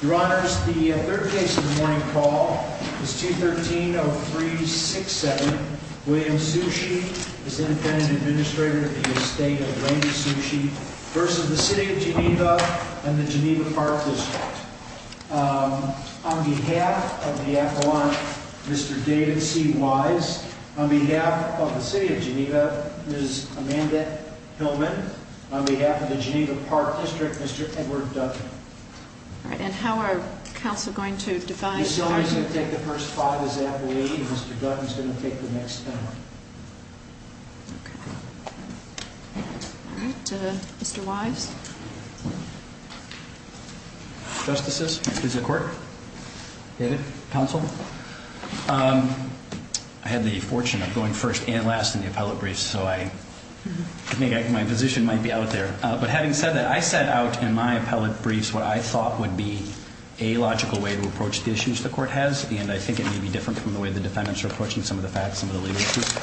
Your Honors, the third case of the morning call is 213-0367, William Sushi, as Independent Administrator of the Estate of Randy Sushi v. City of Geneva and the Geneva Park District. On behalf of the Appellant, Mr. David C. Wise. On behalf of the City of Geneva, Ms. Amanda Hillman. On behalf of the Geneva Park District, Mr. Edward Dutton. Ms. Hillman is going to take the first five as Appellate and Mr. Dutton is going to take the next ten. Mr. Justice, this is the Court. David, Counsel. I had the fortune of going first and last in the Appellate Briefs, so I think my position might be out there. But having said that, I set out in my Appellate Briefs what I thought would be a logical way to approach the issues the Court has, and I think it may be different from the way the defendants are approaching some of the facts, some of the legal issues.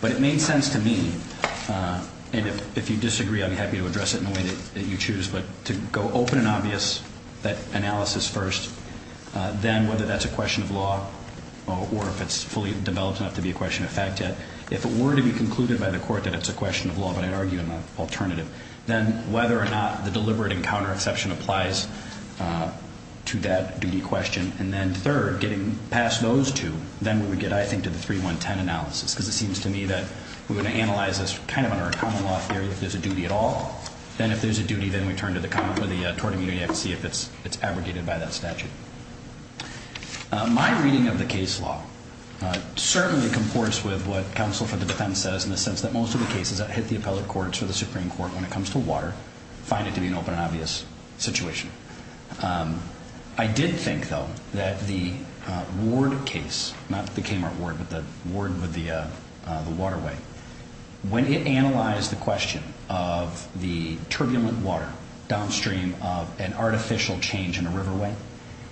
But it made sense to me, and if you disagree, I'd be happy to address it in the way that you choose, but to go open and obvious that analysis first. Then, whether that's a question of law or if it's fully developed enough to be a question of fact, if it were to be concluded by the Court that it's a question of law, but I'd argue an alternative, then whether or not the deliberate encounter exception applies to that duty question. And then third, getting past those two, then we would get, I think, to the 3-1-10 analysis, because it seems to me that we would analyze this kind of under a common law theory if there's a duty at all. Then if there's a duty, then we turn to the tort immunity act to see if it's abrogated by that statute. My reading of the case law certainly comports with what counsel for the defense says in the sense that most of the cases that hit the appellate courts or the Supreme Court when it comes to water find it to be an open and obvious situation. I did think, though, that the Ward case, not the Kmart Ward, but the Ward with the waterway, when it analyzed the question of the turbulent water downstream of an artificial change in a riverway,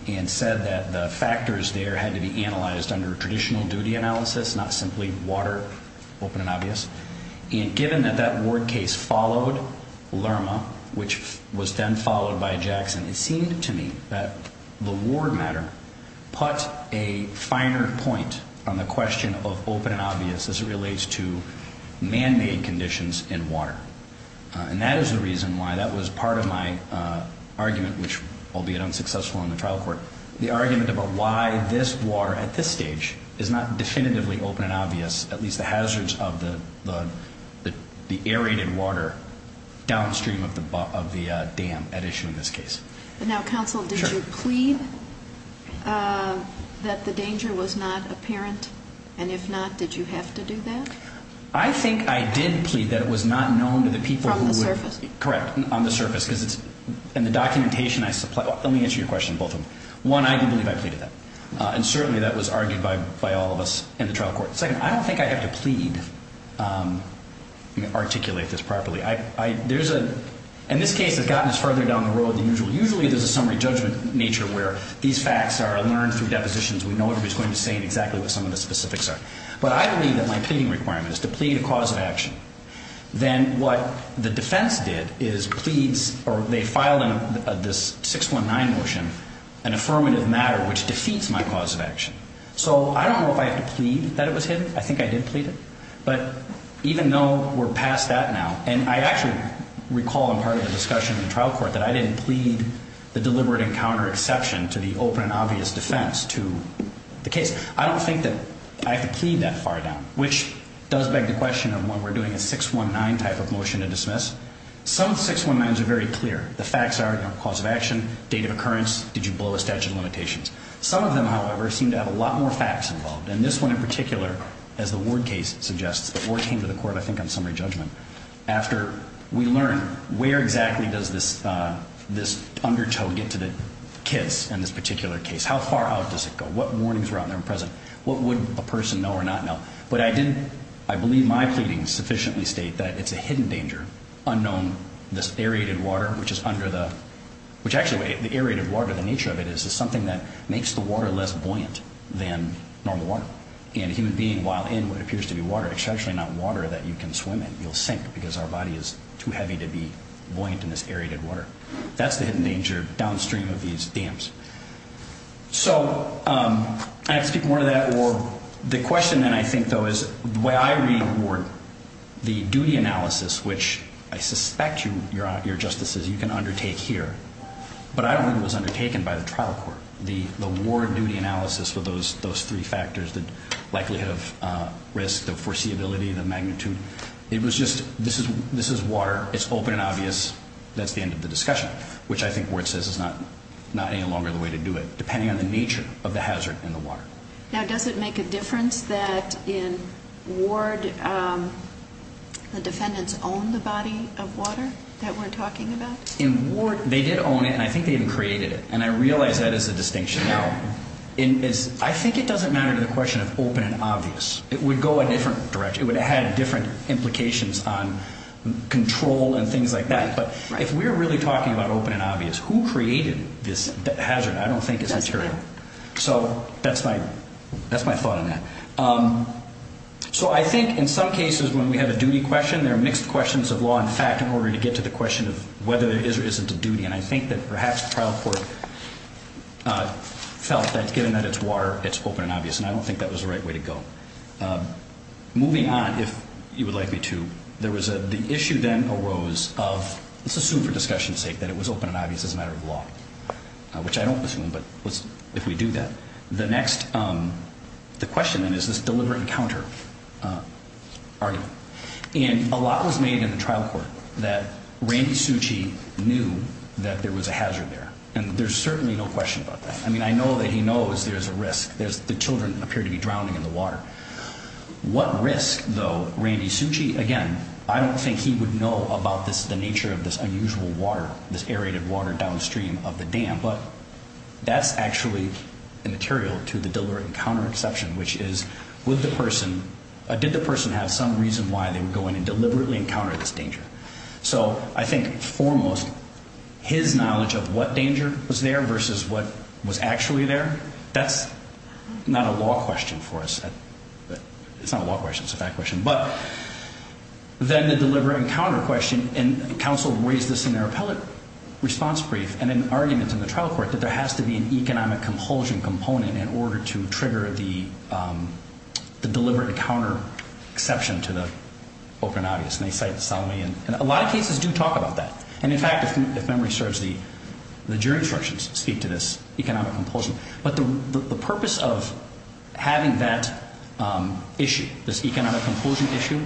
and said that the factors there had to be analyzed under traditional duty analysis, not simply water, open and obvious, and given that that Ward case followed Lerma, which was then followed by Jackson, it seemed to me that the Ward matter put a finer point on the question of open and obvious as it relates to man-made conditions in water. And that is the reason why that was part of my argument, which, albeit unsuccessful in the trial court, the argument about why this water at this stage is not definitively open and obvious, at least the hazards of the aerated water downstream of the dam at issue in this case. Now, counsel, did you plead that the danger was not apparent? And if not, did you have to do that? I think I did plead that it was not known to the people who would... From the surface? Let me answer your question, both of them. One, I do believe I pleaded that. And certainly that was argued by all of us in the trial court. Second, I don't think I have to plead, articulate this properly. In this case, it's gotten us further down the road than usual. Usually there's a summary judgment nature where these facts are learned through depositions. We know everybody's going to say exactly what some of the specifics are. But I believe that my pleading requirement is to plead a cause of action. Then what the defense did is they filed this 619 motion, an affirmative matter, which defeats my cause of action. So I don't know if I have to plead that it was hidden. I think I did plead it. But even though we're past that now, and I actually recall in part of the discussion in the trial court that I didn't plead the deliberate encounter exception to the open and obvious defense to the case. I don't think that I have to plead that far down, which does beg the question of when we're doing a 619 type of motion to dismiss. Some of the 619s are very clear. The facts are, you know, cause of action, date of occurrence, did you blow a statute of limitations. Some of them, however, seem to have a lot more facts involved. And this one in particular, as the Ward case suggests, the Ward came to the court, I think on summary judgment, after we learned where exactly does this undertow get to the kids in this particular case. How far out does it go? What warnings were out there and present? What would a person know or not know? But I didn't, I believe my pleadings sufficiently state that it's a hidden danger, unknown, this aerated water which is under the, which actually the aerated water, the nature of it, is something that makes the water less buoyant than normal water. And a human being while in what appears to be water, it's actually not water that you can swim in. You'll sink because our body is too heavy to be buoyant in this aerated water. That's the hidden danger downstream of these dams. So I can speak more to that. Or the question then I think, though, is the way I read Ward, the duty analysis, which I suspect you, your Justices, you can undertake here, but I don't think it was undertaken by the trial court. The Ward duty analysis with those three factors, the likelihood of risk, the foreseeability, the magnitude, it was just this is water, it's open and obvious, that's the end of the discussion, which I think Ward says is not any longer the way to do it, depending on the nature of the hazard in the water. Now, does it make a difference that in Ward the defendants own the body of water that we're talking about? In Ward they did own it, and I think they even created it. And I realize that is a distinction. Now, I think it doesn't matter to the question of open and obvious. It would go a different direction. It would have had different implications on control and things like that. But if we're really talking about open and obvious, who created this hazard I don't think is material. So that's my thought on that. So I think in some cases when we have a duty question, there are mixed questions of law and fact in order to get to the question of whether there is or isn't a duty. And I think that perhaps the trial court felt that given that it's water, it's open and obvious, and I don't think that was the right way to go. Moving on, if you would like me to, the issue then arose of, let's assume for discussion's sake, that it was open and obvious as a matter of law, which I don't assume, but if we do that. The question then is this deliberate encounter argument. And a lot was made in the trial court that Randy Succi knew that there was a hazard there, and there's certainly no question about that. I mean, I know that he knows there's a risk. The children appear to be drowning in the water. What risk, though, Randy Succi, again, I don't think he would know about the nature of this unusual water, this aerated water downstream of the dam, but that's actually a material to the deliberate encounter exception, which is did the person have some reason why they were going and deliberately encountered this danger. So I think foremost, his knowledge of what danger was there versus what was actually there, that's not a law question for us. It's not a law question. It's a fact question. But then the deliberate encounter question, and counsel raised this in their appellate response brief and in arguments in the trial court that there has to be an economic compulsion component in order to trigger the deliberate encounter exception to the open and obvious. And they cite Salome, and a lot of cases do talk about that. And, in fact, if memory serves, the jury instructions speak to this economic compulsion. But the purpose of having that issue, this economic compulsion issue,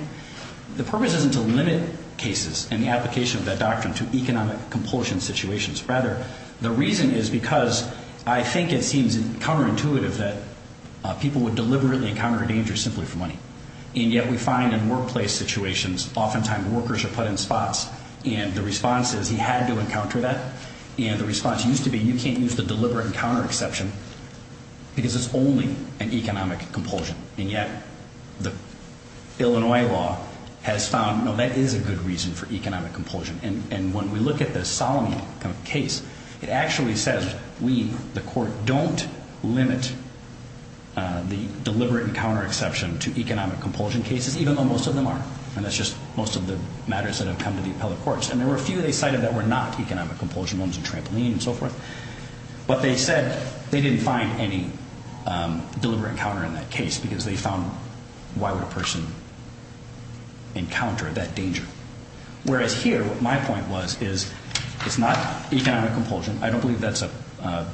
the purpose isn't to limit cases and the application of that doctrine to economic compulsion situations. Rather, the reason is because I think it seems counterintuitive that people would deliberately encounter danger simply for money. And yet we find in workplace situations oftentimes workers are put in spots, and the response is he had to encounter that. And the response used to be you can't use the deliberate encounter exception because it's only an economic compulsion. And yet the Illinois law has found, no, that is a good reason for economic compulsion. And when we look at the Salome case, it actually says we, the court, don't limit the deliberate encounter exception to economic compulsion cases, even though most of them are. And that's just most of the matters that have come to the appellate courts. And there were a few they cited that were not economic compulsion, ones in trampoline and so forth. But they said they didn't find any deliberate encounter in that case because they found why would a person encounter that danger. Whereas here what my point was is it's not economic compulsion. I don't believe that's a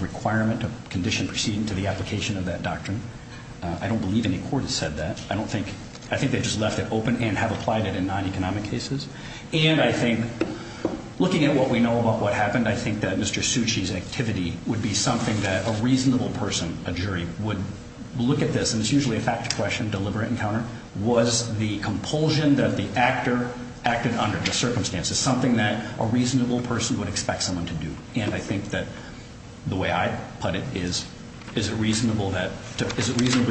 requirement of condition proceeding to the application of that doctrine. I don't believe any court has said that. I think they just left it open and have applied it in non-economic cases. And I think looking at what we know about what happened, I think that Mr. Succi's activity would be something that a reasonable person, a jury, would look at this. And it's usually a fact question, deliberate encounter. Was the compulsion that the actor acted under, the circumstances, something that a reasonable person would expect someone to do? And I think that the way I put it is, is it reasonably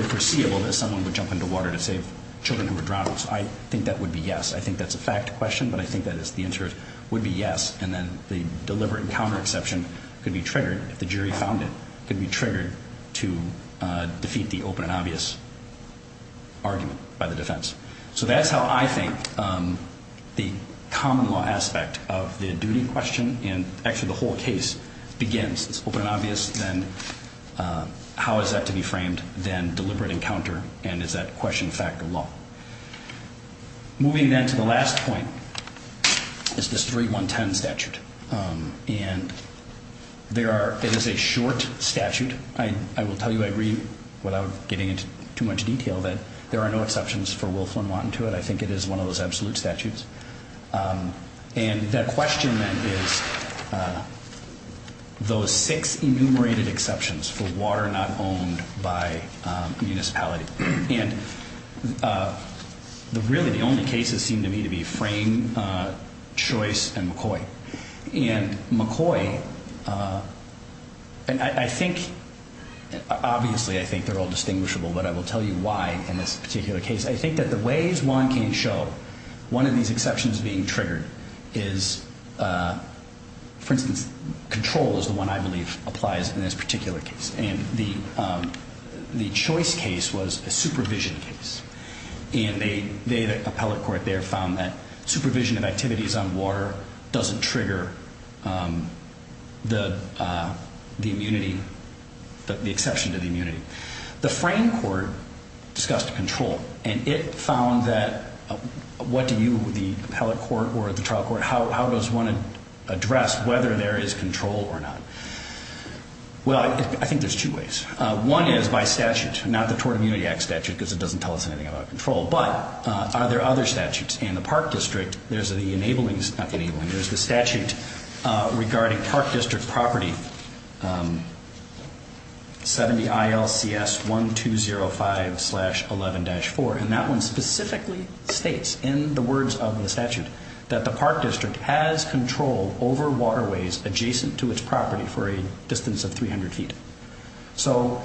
foreseeable that someone would jump into water to save children who were drowned? I think that would be yes. I think that's a fact question, but I think that the answer would be yes. And then the deliberate encounter exception could be triggered if the jury found it, could be triggered to defeat the open and obvious argument by the defense. So that's how I think the common law aspect of the duty question, and actually the whole case, begins. It's open and obvious, then how is that to be framed, then deliberate encounter, and is that question fact or law? Moving then to the last point is this 3-1-10 statute. And there are, it is a short statute. I will tell you I read, without getting into too much detail, that there are no exceptions for Wilf and Wanton to it. I think it is one of those absolute statutes. And that question then is those six enumerated exceptions for water not owned by municipality. And really the only cases seem to me to be Frame, Choice, and McCoy. And McCoy, and I think, obviously I think they're all distinguishable, but I will tell you why in this particular case. I think that the ways one can show one of these exceptions being triggered is, for instance, control is the one I believe applies in this particular case. And the Choice case was a supervision case. And the appellate court there found that supervision of activities on water doesn't trigger the immunity, the exception to the immunity. The Frame court discussed control. And it found that, what do you, the appellate court or the trial court, how does one address whether there is control or not? Well, I think there's two ways. One is by statute, not the Tort Immunity Act statute because it doesn't tell us anything about control. But are there other statutes? In the Park District, there's the enabling, not enabling, there's the statute regarding Park District property 70 ILCS 1205-11-4. And that one specifically states in the words of the statute that the Park District has control over waterways adjacent to its property for a distance of 300 feet. So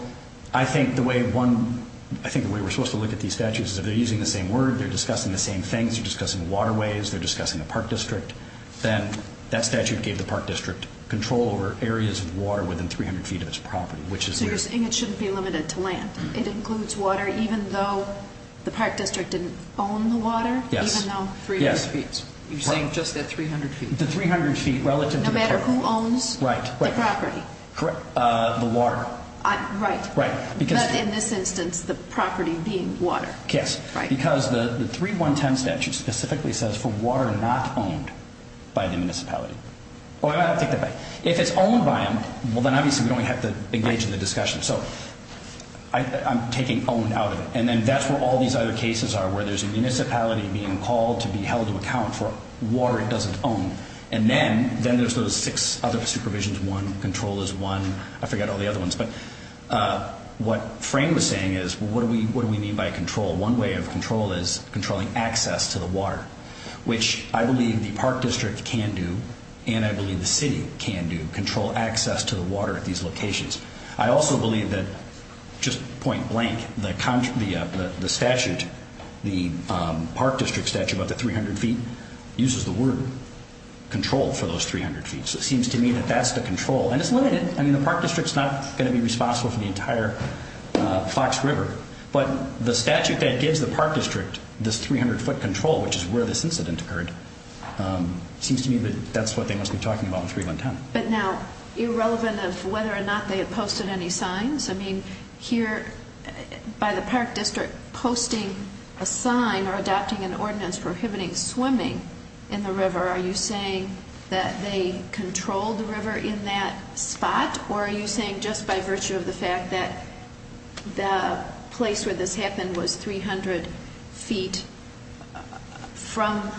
I think the way one, I think the way we're supposed to look at these statutes is if they're using the same word, they're discussing the same things, they're discussing waterways, they're discussing the Park District, then that statute gave the Park District control over areas of water within 300 feet of its property, which is weird. So you're saying it shouldn't be limited to land? It includes water even though the Park District didn't own the water? Yes. Even though 300 feet? Yes. You're saying just that 300 feet? The 300 feet relative to the property. No matter who owns the property? Correct. The water. Right. Right. But in this instance, the property being water. Yes. Right. Because the 3-1-10 statute specifically says for water not owned by the municipality. Well, I'll take that back. If it's owned by them, well, then obviously we don't have to engage in the discussion. So I'm taking owned out of it. And then that's where all these other cases are where there's a municipality being called to be held to account for water it doesn't own. And then there's those six other supervisions. One, control is one. I forgot all the other ones. But what Frank was saying is what do we mean by control? One way of control is controlling access to the water, which I believe the Park District can do and I believe the city can do. Control access to the water at these locations. I also believe that, just point blank, the statute, the Park District statute about the 300 feet uses the word control for those 300 feet. So it seems to me that that's the control. And it's limited. I mean, the Park District's not going to be responsible for the entire Fox River. But the statute that gives the Park District this 300-foot control, which is where this incident occurred, seems to me that that's what they must be talking about with 3-1-10. But now, irrelevant of whether or not they had posted any signs, I mean, here by the Park District posting a sign or adopting an ordinance prohibiting swimming in the river, are you saying that they controlled the river in that spot? Or are you saying just by virtue of the fact that the place where this happened was 300 feet from?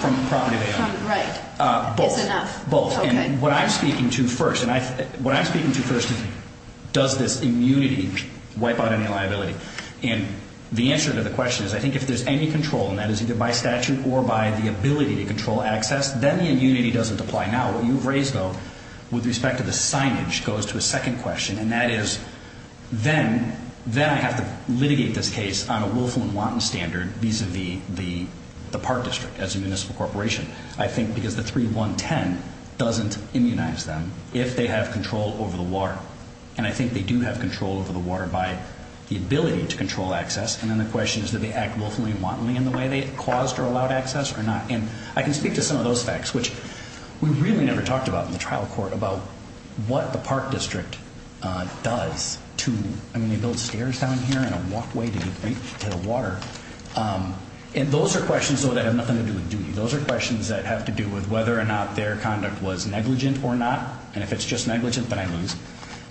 From the property they owned. Right. Both. It's enough. Both. Okay. And what I'm speaking to first, and what I'm speaking to first is does this immunity wipe out any liability? And the answer to the question is I think if there's any control, and that is either by statute or by the ability to control access, then the immunity doesn't apply. Now, what you've raised, though, with respect to the signage, goes to a second question. And that is then I have to litigate this case on a willful and wanton standard vis-a-vis the Park District as a municipal corporation. I think because the 3-1-10 doesn't immunize them if they have control over the water. And I think they do have control over the water by the ability to control access. And then the question is do they act willfully and wantonly in the way they caused or allowed access or not? And I can speak to some of those facts, which we really never talked about in the trial court, about what the Park District does to, I mean, they build stairs down here and a walkway to get to the water. And those are questions, though, that have nothing to do with duty. Those are questions that have to do with whether or not their conduct was negligent or not. And if it's just negligent, then I lose.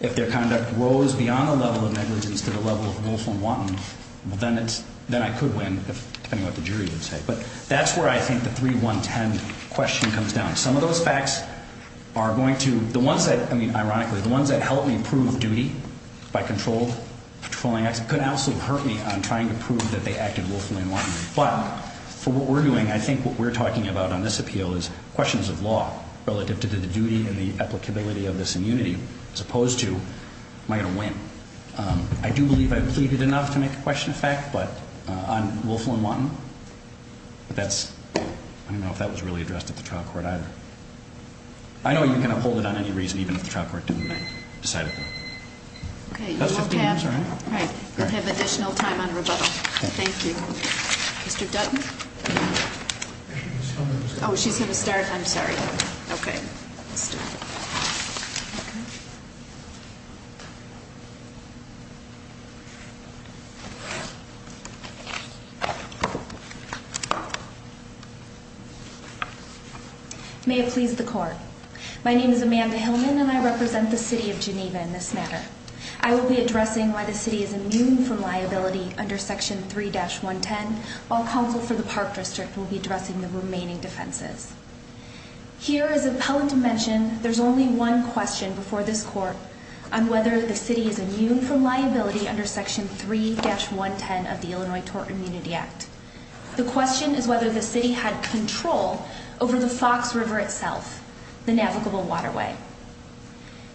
If their conduct rose beyond the level of negligence to the level of willful and wanton, then I could win, depending on what the jury would say. But that's where I think the 3-1-10 question comes down. Some of those facts are going to, the ones that, I mean, ironically, the ones that help me prove duty by controlling access could absolutely hurt me on trying to prove that they acted willfully and wantonly. But for what we're doing, I think what we're talking about on this appeal is questions of law relative to the duty and the applicability of this immunity as opposed to am I going to win. I do believe I've pleaded enough to make a question of fact, but on willful and wanton. But that's, I don't know if that was really addressed at the trial court either. I know you can uphold it on any reason, even if the trial court didn't decide it. That's 15 minutes, right? We'll have additional time on rebuttal. Thank you. Mr. Dutton? Oh, she's going to start? I'm sorry. Okay. Let's do it. Okay. May it please the court. My name is Amanda Hillman, and I represent the city of Geneva in this matter. I will be addressing why the city is immune from liability under Section 3-110, while counsel for the Park District will be addressing the remaining defenses. Here, as the appellant mentioned, there's only one question before this court on whether the city is immune from liability under Section 3-110 of the Illinois Tort Immunity Act. The question is whether the city had control over the Fox River itself, the navigable waterway.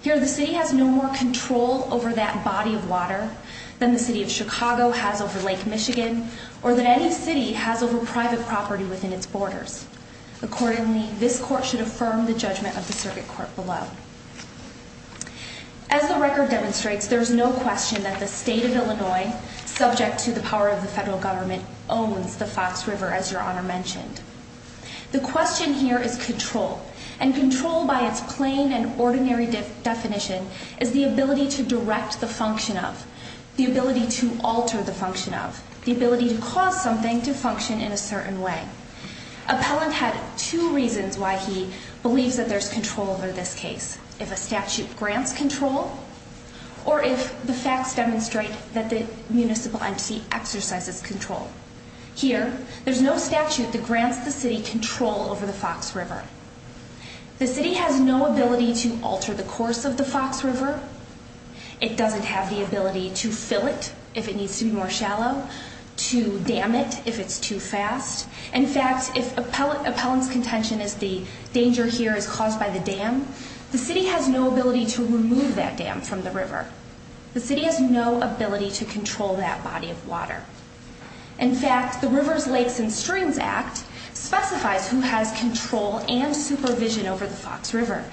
Here, the city has no more control over that body of water than the city of Chicago has over Lake Michigan or than any city has over private property within its borders. Accordingly, this court should affirm the judgment of the circuit court below. As the record demonstrates, there's no question that the state of Illinois, subject to the power of the federal government, owns the Fox River, as Your Honor mentioned. The question here is control, and control by its plain and ordinary definition is the ability to direct the function of, the ability to alter the function of, the ability to cause something to function in a certain way. Appellant had two reasons why he believes that there's control over this case. If a statute grants control, or if the facts demonstrate that the municipal entity exercises control. Here, there's no statute that grants the city control over the Fox River. The city has no ability to alter the course of the Fox River. It doesn't have the ability to fill it if it needs to be more shallow, to dam it if it's too fast. In fact, if appellant's contention is the danger here is caused by the dam, the city has no ability to remove that dam from the river. The city has no ability to control that body of water. In fact, the Rivers, Lakes, and Streams Act specifies who has control and supervision over the Fox River.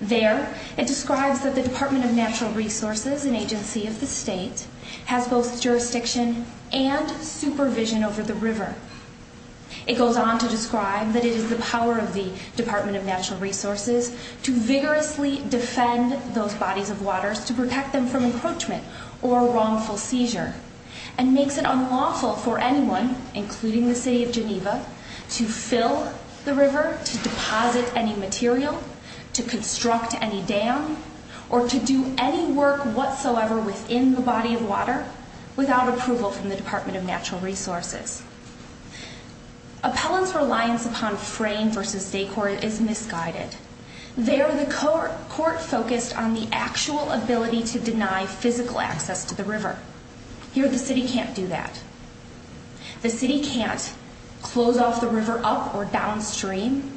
There, it describes that the Department of Natural Resources, an agency of the state, has both jurisdiction and supervision over the river. It goes on to describe that it is the power of the Department of Natural Resources to vigorously defend those bodies of waters to protect them from encroachment or wrongful seizure. And makes it unlawful for anyone, including the city of Geneva, to fill the river, to deposit any material, to construct any dam, or to do any work whatsoever within the body of water without approval from the Department of Natural Resources. Appellant's reliance upon frame versus decor is misguided. There, the court focused on the actual ability to deny physical access to the river. Here, the city can't do that. The city can't close off the river up or downstream,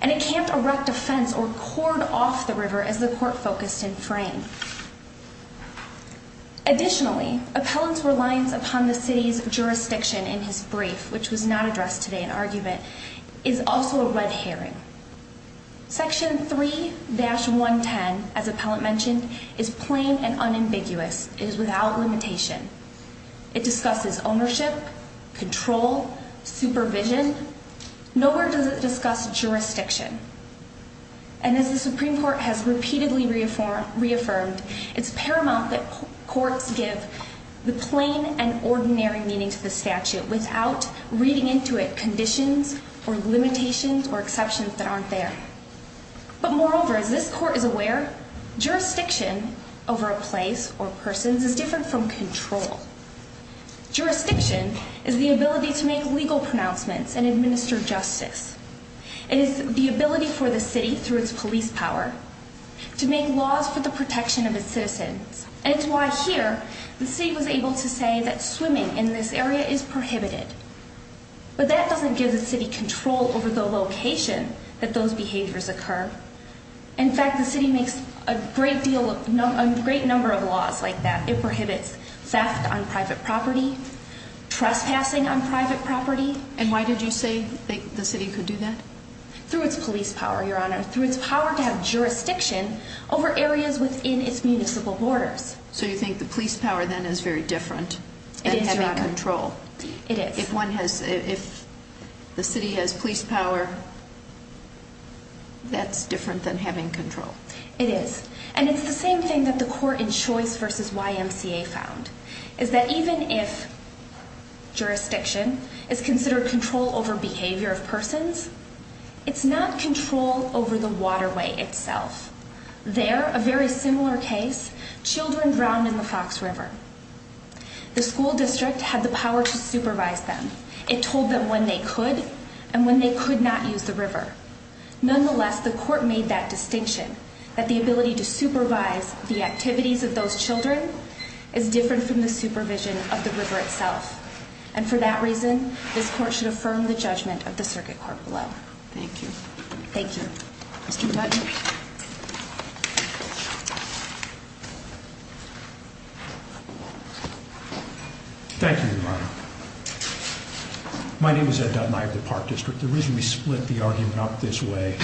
and it can't erect a fence or cord off the river as the court focused in frame. Additionally, Appellant's reliance upon the city's jurisdiction in his brief, which was not addressed today in argument, is also a red herring. Section 3-110, as Appellant mentioned, is plain and unambiguous. It is without limitation. It discusses ownership, control, supervision. Nowhere does it discuss jurisdiction. And as the Supreme Court has repeatedly reaffirmed, it's paramount that courts give the plain and ordinary meaning to the statute without reading into it conditions or limitations or exceptions that aren't there. But moreover, as this court is aware, jurisdiction over a place or persons is different from control. Jurisdiction is the ability to make legal pronouncements and administer justice. It is the ability for the city, through its police power, to make laws for the protection of its citizens. And it's why here, the city was able to say that swimming in this area is prohibited. But that doesn't give the city control over the location that those behaviors occur. In fact, the city makes a great number of laws like that. It prohibits theft on private property, trespassing on private property. And why did you say the city could do that? Through its police power, Your Honor. Through its power to have jurisdiction over areas within its municipal borders. So you think the police power then is very different than having control? It is, Your Honor. It is. If the city has police power, that's different than having control? It is. And it's the same thing that the court in Choice v. YMCA found, is that even if jurisdiction is considered control over behavior of persons, it's not control over the waterway itself. There, a very similar case, children drowned in the Fox River. The school district had the power to supervise them. It told them when they could and when they could not use the river. Nonetheless, the court made that distinction, that the ability to supervise the activities of those children is different from the supervision of the river itself. And for that reason, this court should affirm the judgment of the circuit court below. Thank you. Thank you. Mr. Dutton. Thank you, Your Honor. My name is Ed Dutton. I have the Park District. The reason we split the argument up this way,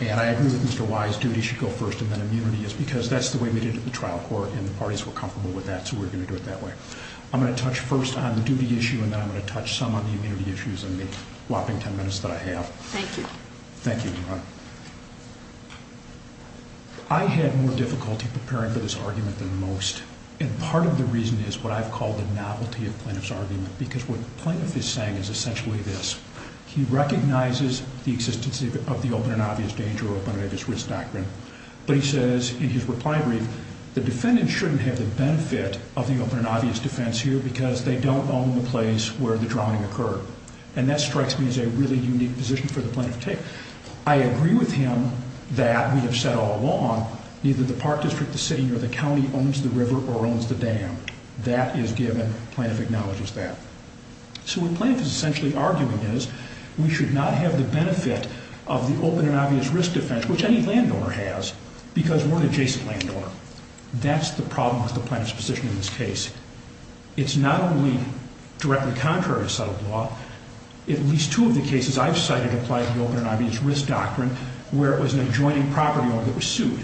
and I agree that Mr. Y's duty should go first and then immunity, is because that's the way we did it at the trial court, and the parties were comfortable with that, so we're going to do it that way. I'm going to touch first on the duty issue, and then I'm going to touch some on the immunity issues in the whopping ten minutes that I have. Thank you. Thank you, Your Honor. I had more difficulty preparing for this argument than most, and part of the reason is what I've called the novelty of Plaintiff's argument, because what the Plaintiff is saying is essentially this. He recognizes the existence of the open and obvious danger or open and obvious risk doctrine, but he says in his reply brief, the defendant shouldn't have the benefit of the open and obvious defense here because they don't own the place where the drowning occurred, and that strikes me as a really unique position for the Plaintiff to take. I agree with him that we have said all along, neither the Park District, the city, nor the county owns the river or owns the dam. That is given. Plaintiff acknowledges that. So what Plaintiff is essentially arguing is, we should not have the benefit of the open and obvious risk defense, which any landowner has, because we're an adjacent landowner. That's the problem with the Plaintiff's position in this case. It's not only directly contrary to settled law. At least two of the cases I've cited apply to the open and obvious risk doctrine where it was an adjoining property owner that was sued.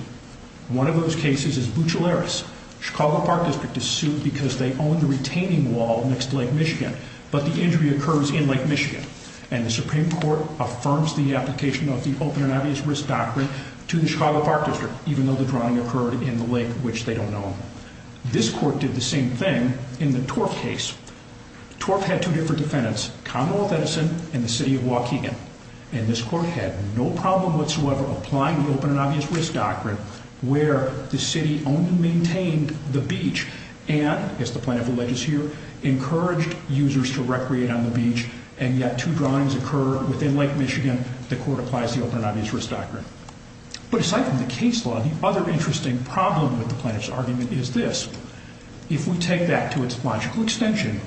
One of those cases is Buccellaris. Chicago Park District is sued because they own the retaining wall next to Lake Michigan, but the injury occurs in Lake Michigan, and the Supreme Court affirms the application of the open and obvious risk doctrine to the Chicago Park District, even though the drowning occurred in the lake, which they don't own. This court did the same thing in the Torf case. Torf had two different defendants, Commonwealth Edison and the city of Waukegan, and this court had no problem whatsoever applying the open and obvious risk doctrine where the city only maintained the beach and, as the Plaintiff alleges here, encouraged users to recreate on the beach, and yet two drownings occur within Lake Michigan, the court applies the open and obvious risk doctrine. But aside from the case law, the other interesting problem with the Plaintiff's argument is this. If we take that to its logical extension,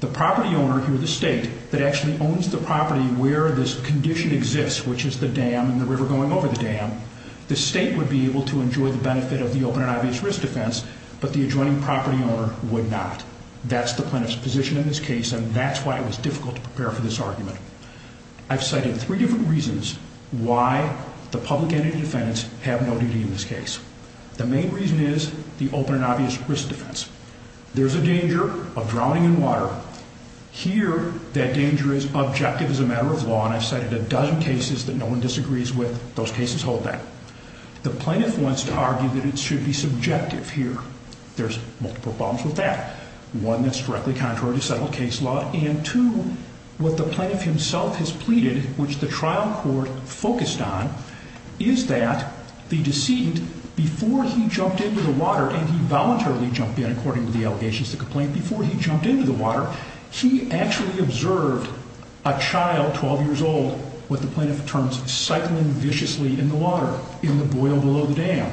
the property owner here, the state, that actually owns the property where this condition exists, which is the dam and the river going over the dam, the state would be able to enjoy the benefit of the open and obvious risk defense, but the adjoining property owner would not. That's the Plaintiff's position in this case, and that's why it was difficult to prepare for this argument. I've cited three different reasons why the public entity defendants have no duty in this case. The main reason is the open and obvious risk defense. There's a danger of drowning in water. Here, that danger is objective as a matter of law, and I've cited a dozen cases that no one disagrees with. Those cases hold that. The Plaintiff wants to argue that it should be subjective here. There's multiple problems with that. One, it's directly contrary to settled case law, and two, what the Plaintiff himself has pleaded, which the trial court focused on, is that the decedent, before he jumped into the water, and he voluntarily jumped in according to the allegations to complaint, before he jumped into the water, he actually observed a child, 12 years old, with the Plaintiff's terms, cycling viciously in the water in the boil below the dam.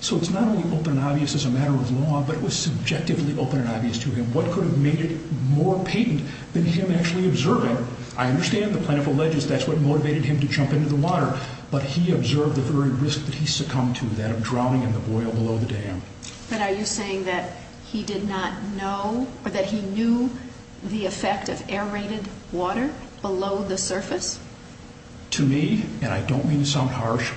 So it's not only open and obvious as a matter of law, but it was subjectively open and obvious to him. What could have made it more patent than him actually observing? I understand the Plaintiff alleges that's what motivated him to jump into the water, but he observed the very risk that he succumbed to, that of drowning in the boil below the dam. But are you saying that he did not know, or that he knew the effect of aerated water below the surface? To me, and I don't mean to sound harsh,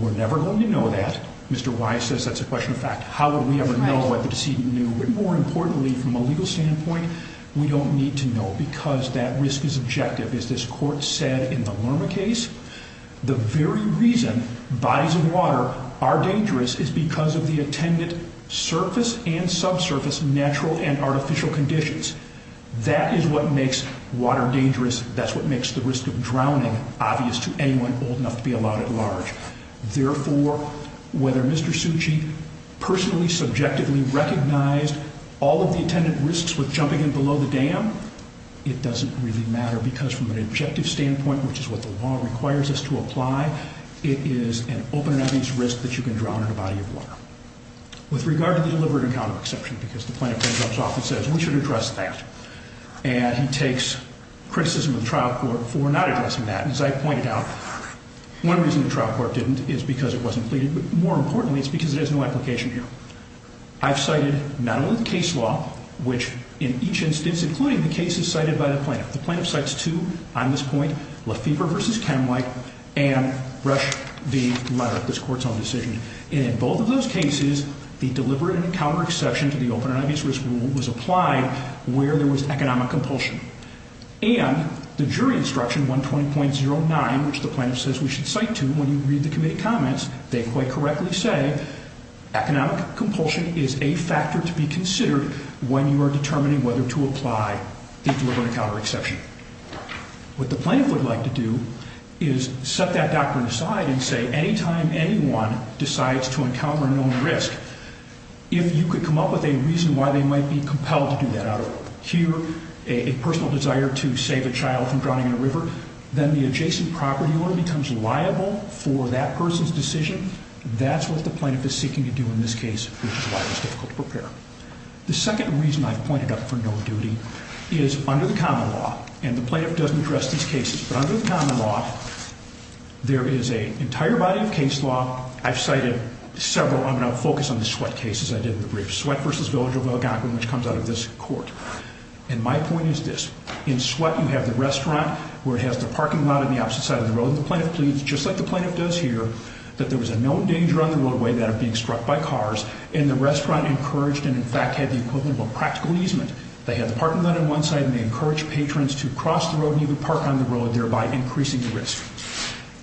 we're never going to know that. Mr. Wise says that's a question of fact. How would we ever know if the decedent knew? But more importantly, from a legal standpoint, we don't need to know because that risk is objective. As this Court said in the Lerma case, the very reason bodies of water are dangerous is because of the attendant surface and subsurface natural and artificial conditions. That is what makes water dangerous. That's what makes the risk of drowning obvious to anyone old enough to be allowed at large. Therefore, whether Mr. Succi personally, subjectively, recognized all of the attendant risks with jumping in below the dam, it doesn't really matter because from an objective standpoint, which is what the law requires us to apply, it is an open and obvious risk that you can drown in a body of water. With regard to the deliberate and counter-exception, because the Plaintiff then jumps off and says, we should address that. And he takes criticism of the trial court for not addressing that. As I pointed out, one reason the trial court didn't is because it wasn't pleaded, but more importantly, it's because it has no application here. I've cited not only the case law, which in each instance, including the cases cited by the Plaintiff, the Plaintiff cites two on this point, Lefebvre v. Kenway, and Rush v. Madera, this Court's own decision. And in both of those cases, the deliberate and counter-exception to the open and obvious risk rule was applied where there was economic compulsion. And the jury instruction 120.09, which the Plaintiff says we should cite to when you read the committee comments, they quite correctly say economic compulsion is a factor to be considered when you are determining whether to apply the deliberate and counter-exception. What the Plaintiff would like to do is set that doctrine aside and say, anytime anyone decides to encounter a known risk, if you could come up with a reason why they might be compelled to do that out of, here, a personal desire to save a child from drowning in a river, then the adjacent property owner becomes liable for that person's decision. That's what the Plaintiff is seeking to do in this case, which is why it was difficult to prepare. The second reason I've pointed up for no duty is under the common law, and the Plaintiff doesn't address these cases, but under the common law, there is an entire body of case law. I've cited several. I'm going to focus on the Sweat cases I did in the brief. Sweat v. Village of Algonquin, and my point is this. In Sweat, you have the restaurant where it has the parking lot on the opposite side of the road, and the Plaintiff pleads, just like the Plaintiff does here, that there was a known danger on the roadway that of being struck by cars, and the restaurant encouraged and, in fact, had the equivalent of a practical easement. They had the parking lot on one side, and they encouraged patrons to cross the road and even park on the road, thereby increasing the risk.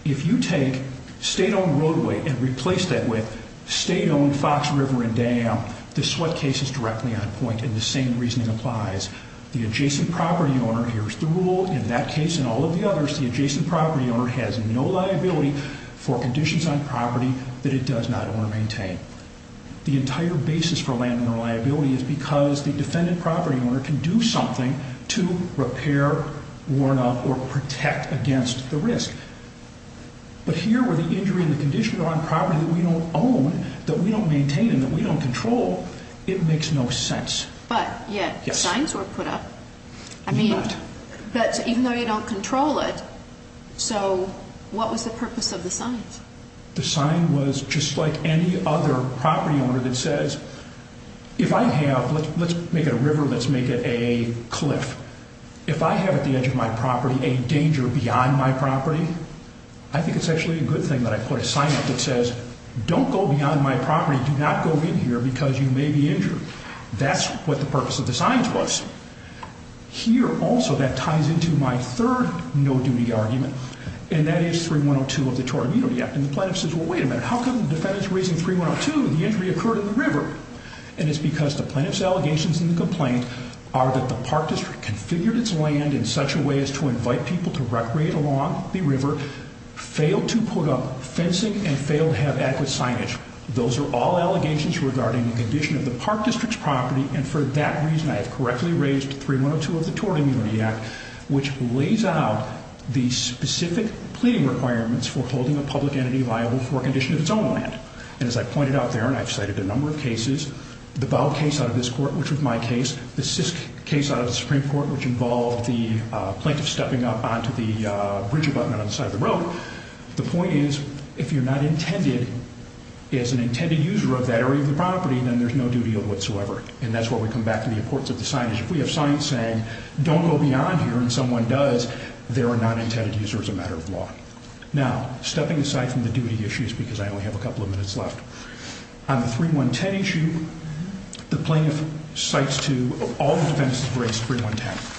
If you take state-owned roadway and replace that with state-owned Fox River and Dam, the Sweat case is directly on point and the same reasoning applies. The adjacent property owner hears the rule. In that case and all of the others, the adjacent property owner has no liability for conditions on property that it does not own or maintain. The entire basis for landowner liability is because the defendant property owner can do something to repair, warn of, or protect against the risk. But here, where the injury and the conditions are on property that we don't own, that we don't maintain, and that we don't control, it makes no sense. But yet, signs were put up. I mean, but even though you don't control it, so what was the purpose of the signs? The sign was just like any other property owner that says, if I have, let's make it a river, let's make it a cliff. If I have at the edge of my property a danger beyond my property, I think it's actually a good thing that I put a sign up that says, don't go beyond my property. Do not go in here because you may be injured. That's not what the purpose of the signs was. Here, also, that ties into my third no-duty argument, and that is 3102 of the Tory Utility Act. And the plaintiff says, well, wait a minute, how come the defendant's raising 3102 and the injury occurred in the river? And it's because the plaintiff's allegations and the complaint are that the park district configured its land in such a way as to invite people to recreate along the river, failed to put up fencing, and failed to have adequate signage. Those are all allegations regarding the condition of the park district's property, and for that reason, I have correctly raised 3102 of the Tory Utility Act, which lays out the specific pleading requirements for holding a public entity liable for a condition of its own land. And as I pointed out there, and I've cited a number of cases, the Bow case out of this court, which was my case, the Sisk case out of the Supreme Court, which involved the plaintiff stepping up onto the bridge abutment on the side of the road. The point is, if you're not intended to use your property, then there's no duty of whatsoever. And that's where we come back to the importance of the signage. If we have signs saying, don't go beyond here, and someone does, they're a non-intended user as a matter of law. Now, stepping aside from the duty issues, because I only have a couple of minutes left, on the 3110 issue, the plaintiff cites to all the defenses of race 3110.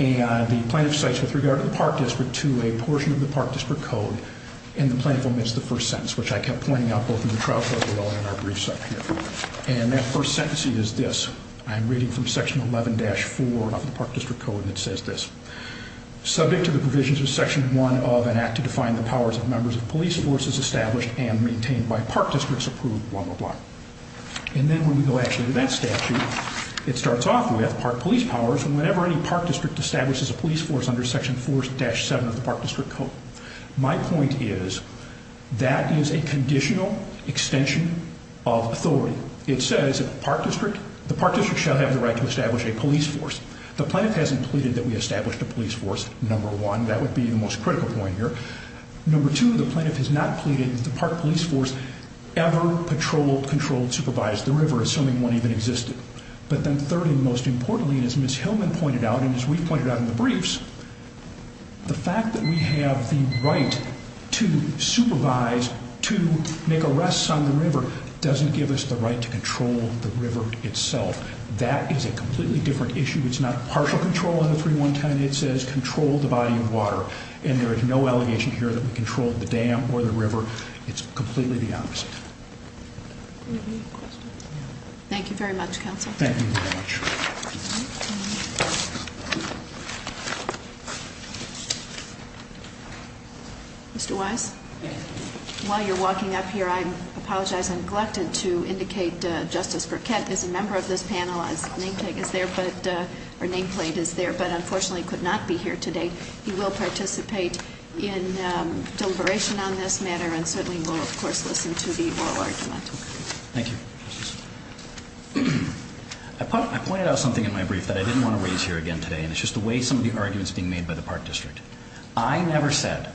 And the plaintiff cites, with regard to the park district, to a portion of the park district code, and that first sentence is this. I'm reading from section 11-4 of the park district code, and it says this. Subject to the provisions of section 1 of an act to define the powers of members of police forces established and maintained by park districts approved, blah, blah, blah. And then when we go actually to that statute, it starts off with park police powers whenever any park district establishes a police force under section 4-7 of the park district code. My point is, that is a conditional extension of authority. It says, the park district shall have the right to establish a police force. The plaintiff hasn't pleaded that we established a police force, number one. That would be the most critical point here. Number two, the plaintiff has not pleaded that the park police force ever patrolled, controlled, supervised the river, assuming one even existed. But then third and most importantly, as Ms. Hillman pointed out, and as we've pointed out in the briefs, the fact that we have the right to supervise, to make arrests on the river, doesn't give us the right to control the river itself. That is a completely different issue. It's not partial control under 3-1-10. It says, control the body of water. And there is no allegation here that we controlled the dam or the river. It's completely the opposite. Any other questions? Thank you very much, counsel. Thank you very much. Mr. Wise? While you're walking up here, I apologize, I'm neglected to indicate Justice Burkett is a member of this panel. His nameplate is there, but unfortunately could not be here today. He will participate in deliberation on this matter, and certainly will, of course, listen to the oral argument. Thank you. I pointed out something in my brief that I didn't want to raise here again today, and it's just the way some of the argument is being made by the Park District. I never said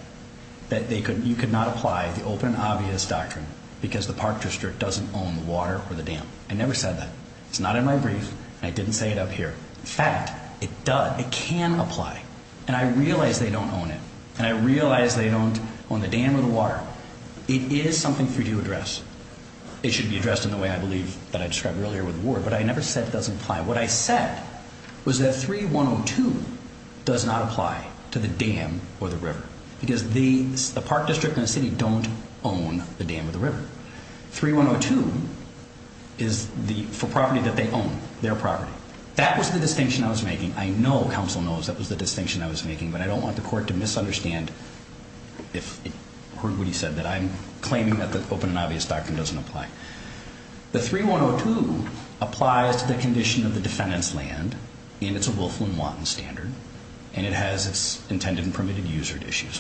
that you could not apply because the Park District doesn't own the water or the dam. I never said that. It's not in my brief, and I didn't say it up here. In fact, it does, it can apply, and I realize they don't own it, and I realize they don't own the dam or the water. It is something for you to address. It should be addressed in the way I believe that I described earlier with Ward, but I never said it doesn't apply. What I said was that 3-1-0-2 does not apply to the dam or the river, because the Park District and the city don't own the dam or the river. 3-1-0-2 is for property that they own, their property. That was the distinction I was making. I know, counsel knows, that was the distinction I was making, but I don't want the court to misunderstand if it heard what he said, that I'm claiming that the open and obvious doctrine doesn't apply. The 3-1-0-2 applies to the condition of the defendant's land, and it's a Wolfman-Watton standard, so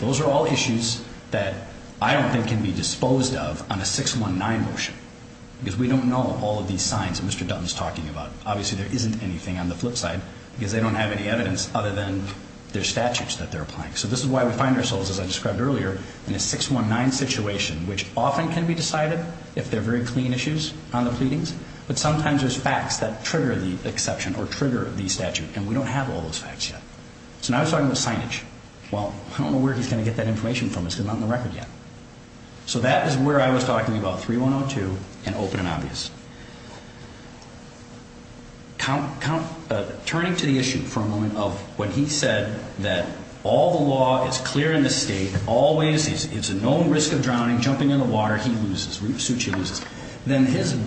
those are all issues that I don't think can be disposed of on a 6-1-9 motion, because we don't know all of these signs that Mr. Dutton is talking about. Obviously, there isn't anything on the flip side, because they don't have any evidence other than their statutes that they're applying. So this is why we find ourselves, as I described earlier, in a 6-1-9 situation, which often can be decided if they're very clean issues on the pleadings, but sometimes there's facts that trigger the exception or trigger the statute, and nobody's going to get that information from us because it's not on the record yet. So that is where I was talking about 3-1-0-2 and open and obvious. Turning to the issue for a moment of when he said that all the law is clear in the state, it's a known risk of drowning, jumping in the water, he loses, then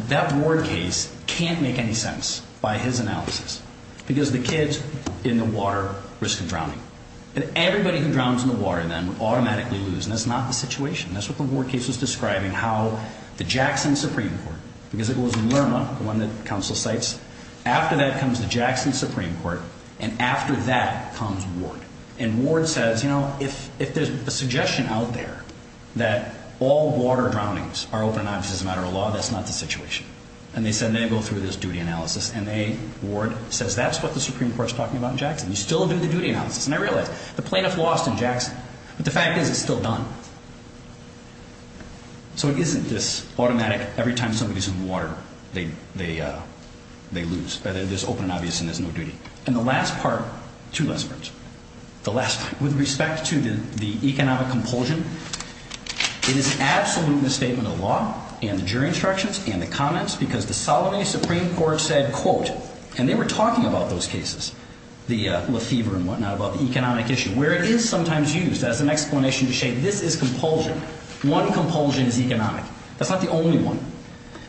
that Ward case can't make any sense by his analysis, because the kids in the water risk drowning. And everybody who drowns in the water would automatically lose, and that's not the situation. That's what the Ward case was describing, how the Jackson Supreme Court, because it was Lerma, the one that counsel cites, after that comes the Jackson Supreme Court, and after that comes Ward. And Ward says, if there's a suggestion out there that all water drownings are open and obvious as a matter of law, that's not the situation. And they go through this duty analysis, and they realize, the plaintiff lost in Jackson, but the fact is it's still done. So it isn't this automatic, every time somebody's in the water, they lose. There's open and obvious, and there's no duty. And the last part, with respect to the economic compulsion, it is an absolute misstatement of the law, and the jury instructions, and the comments, because the Solomay Supreme Court said, and they were talking about those cases, where it is an economic issue, where it is sometimes used as an explanation to say this is compulsion. One compulsion is economic. That's not the only one.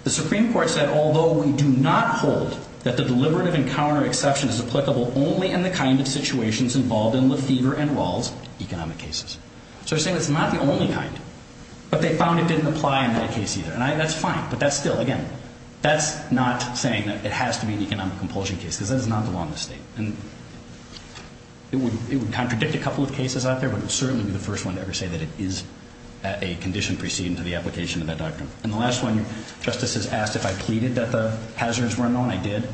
The Supreme Court said, although we do not hold that the deliberative encounter exception is applicable only in the kind of situations involved in Lefevre and Wall's economic cases. So they're saying it's not the only kind, but they found it didn't apply in that case either. And that's fine, but that's still, again, that's not saying that it has to be the only kind of case. We contradict a couple of cases out there, but it will certainly be the first one to ever say that it is a condition preceding to the application of that doctrine. And the last one, Justice has asked if I pleaded that the hazards were unknown. I did.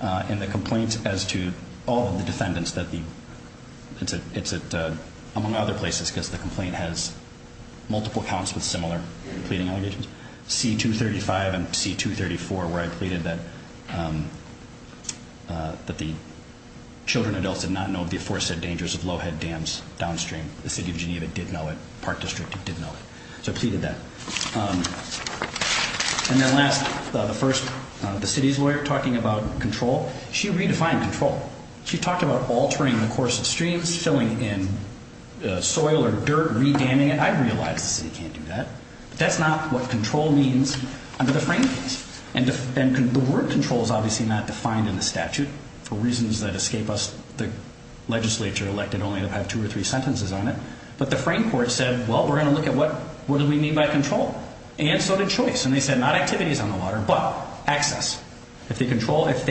And the complaint as to all of the defendants, among other places, because the complaint has multiple accounts with similar pleading allegations, C-235 and C-234 where I pleaded that the children and adults did not know of the aforesaid dangers of low-head dams downstream. The city of Geneva did know it. Park District did know it. So I pleaded that. And then last, the first, the city's lawyer, talking about control, she redefined control. She talked about altering the course of streams, filling in soil or dirt, re-damming it. I realize the city can't do that, but that's not what control means because the word control is obviously not defined in the statute for reasons that escape us. The legislature elected only to have two or three sentences on it. But the frame court said, well, we're going to look at what do we mean by control? And so did choice. And they said not activities on the water, but access. If they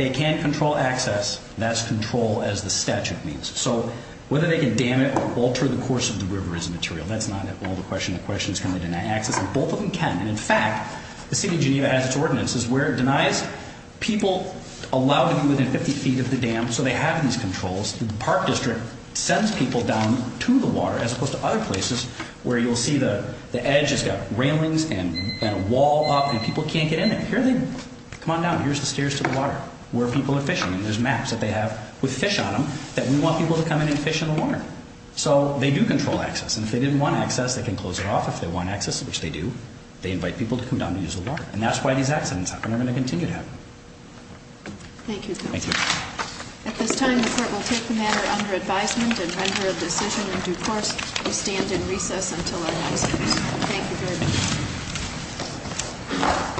can control access, that's control as the statute means. So whether they can dam it or alter the course of the river is immaterial. People allowed to be within 50 feet of the dam, so they have these controls. Park District sends people down to the water as opposed to other places where you'll see the edge has got railings and a wall up and people can't get in there. Here they come on down. Here's the stairs to the water where people are fishing and there's maps that they have with fish on them that we want people to come in and fish in the water. So they do control access. And if they didn't want access, they can close it off if they want access, which they do. They invite people to come down and use the water. And that's why these accidents happen and are going to continue to happen. Thank you. Thank you. At this time the court will take the matter under advisement and render a decision in due course. We stand in recess until our next hearing. Thank you very much.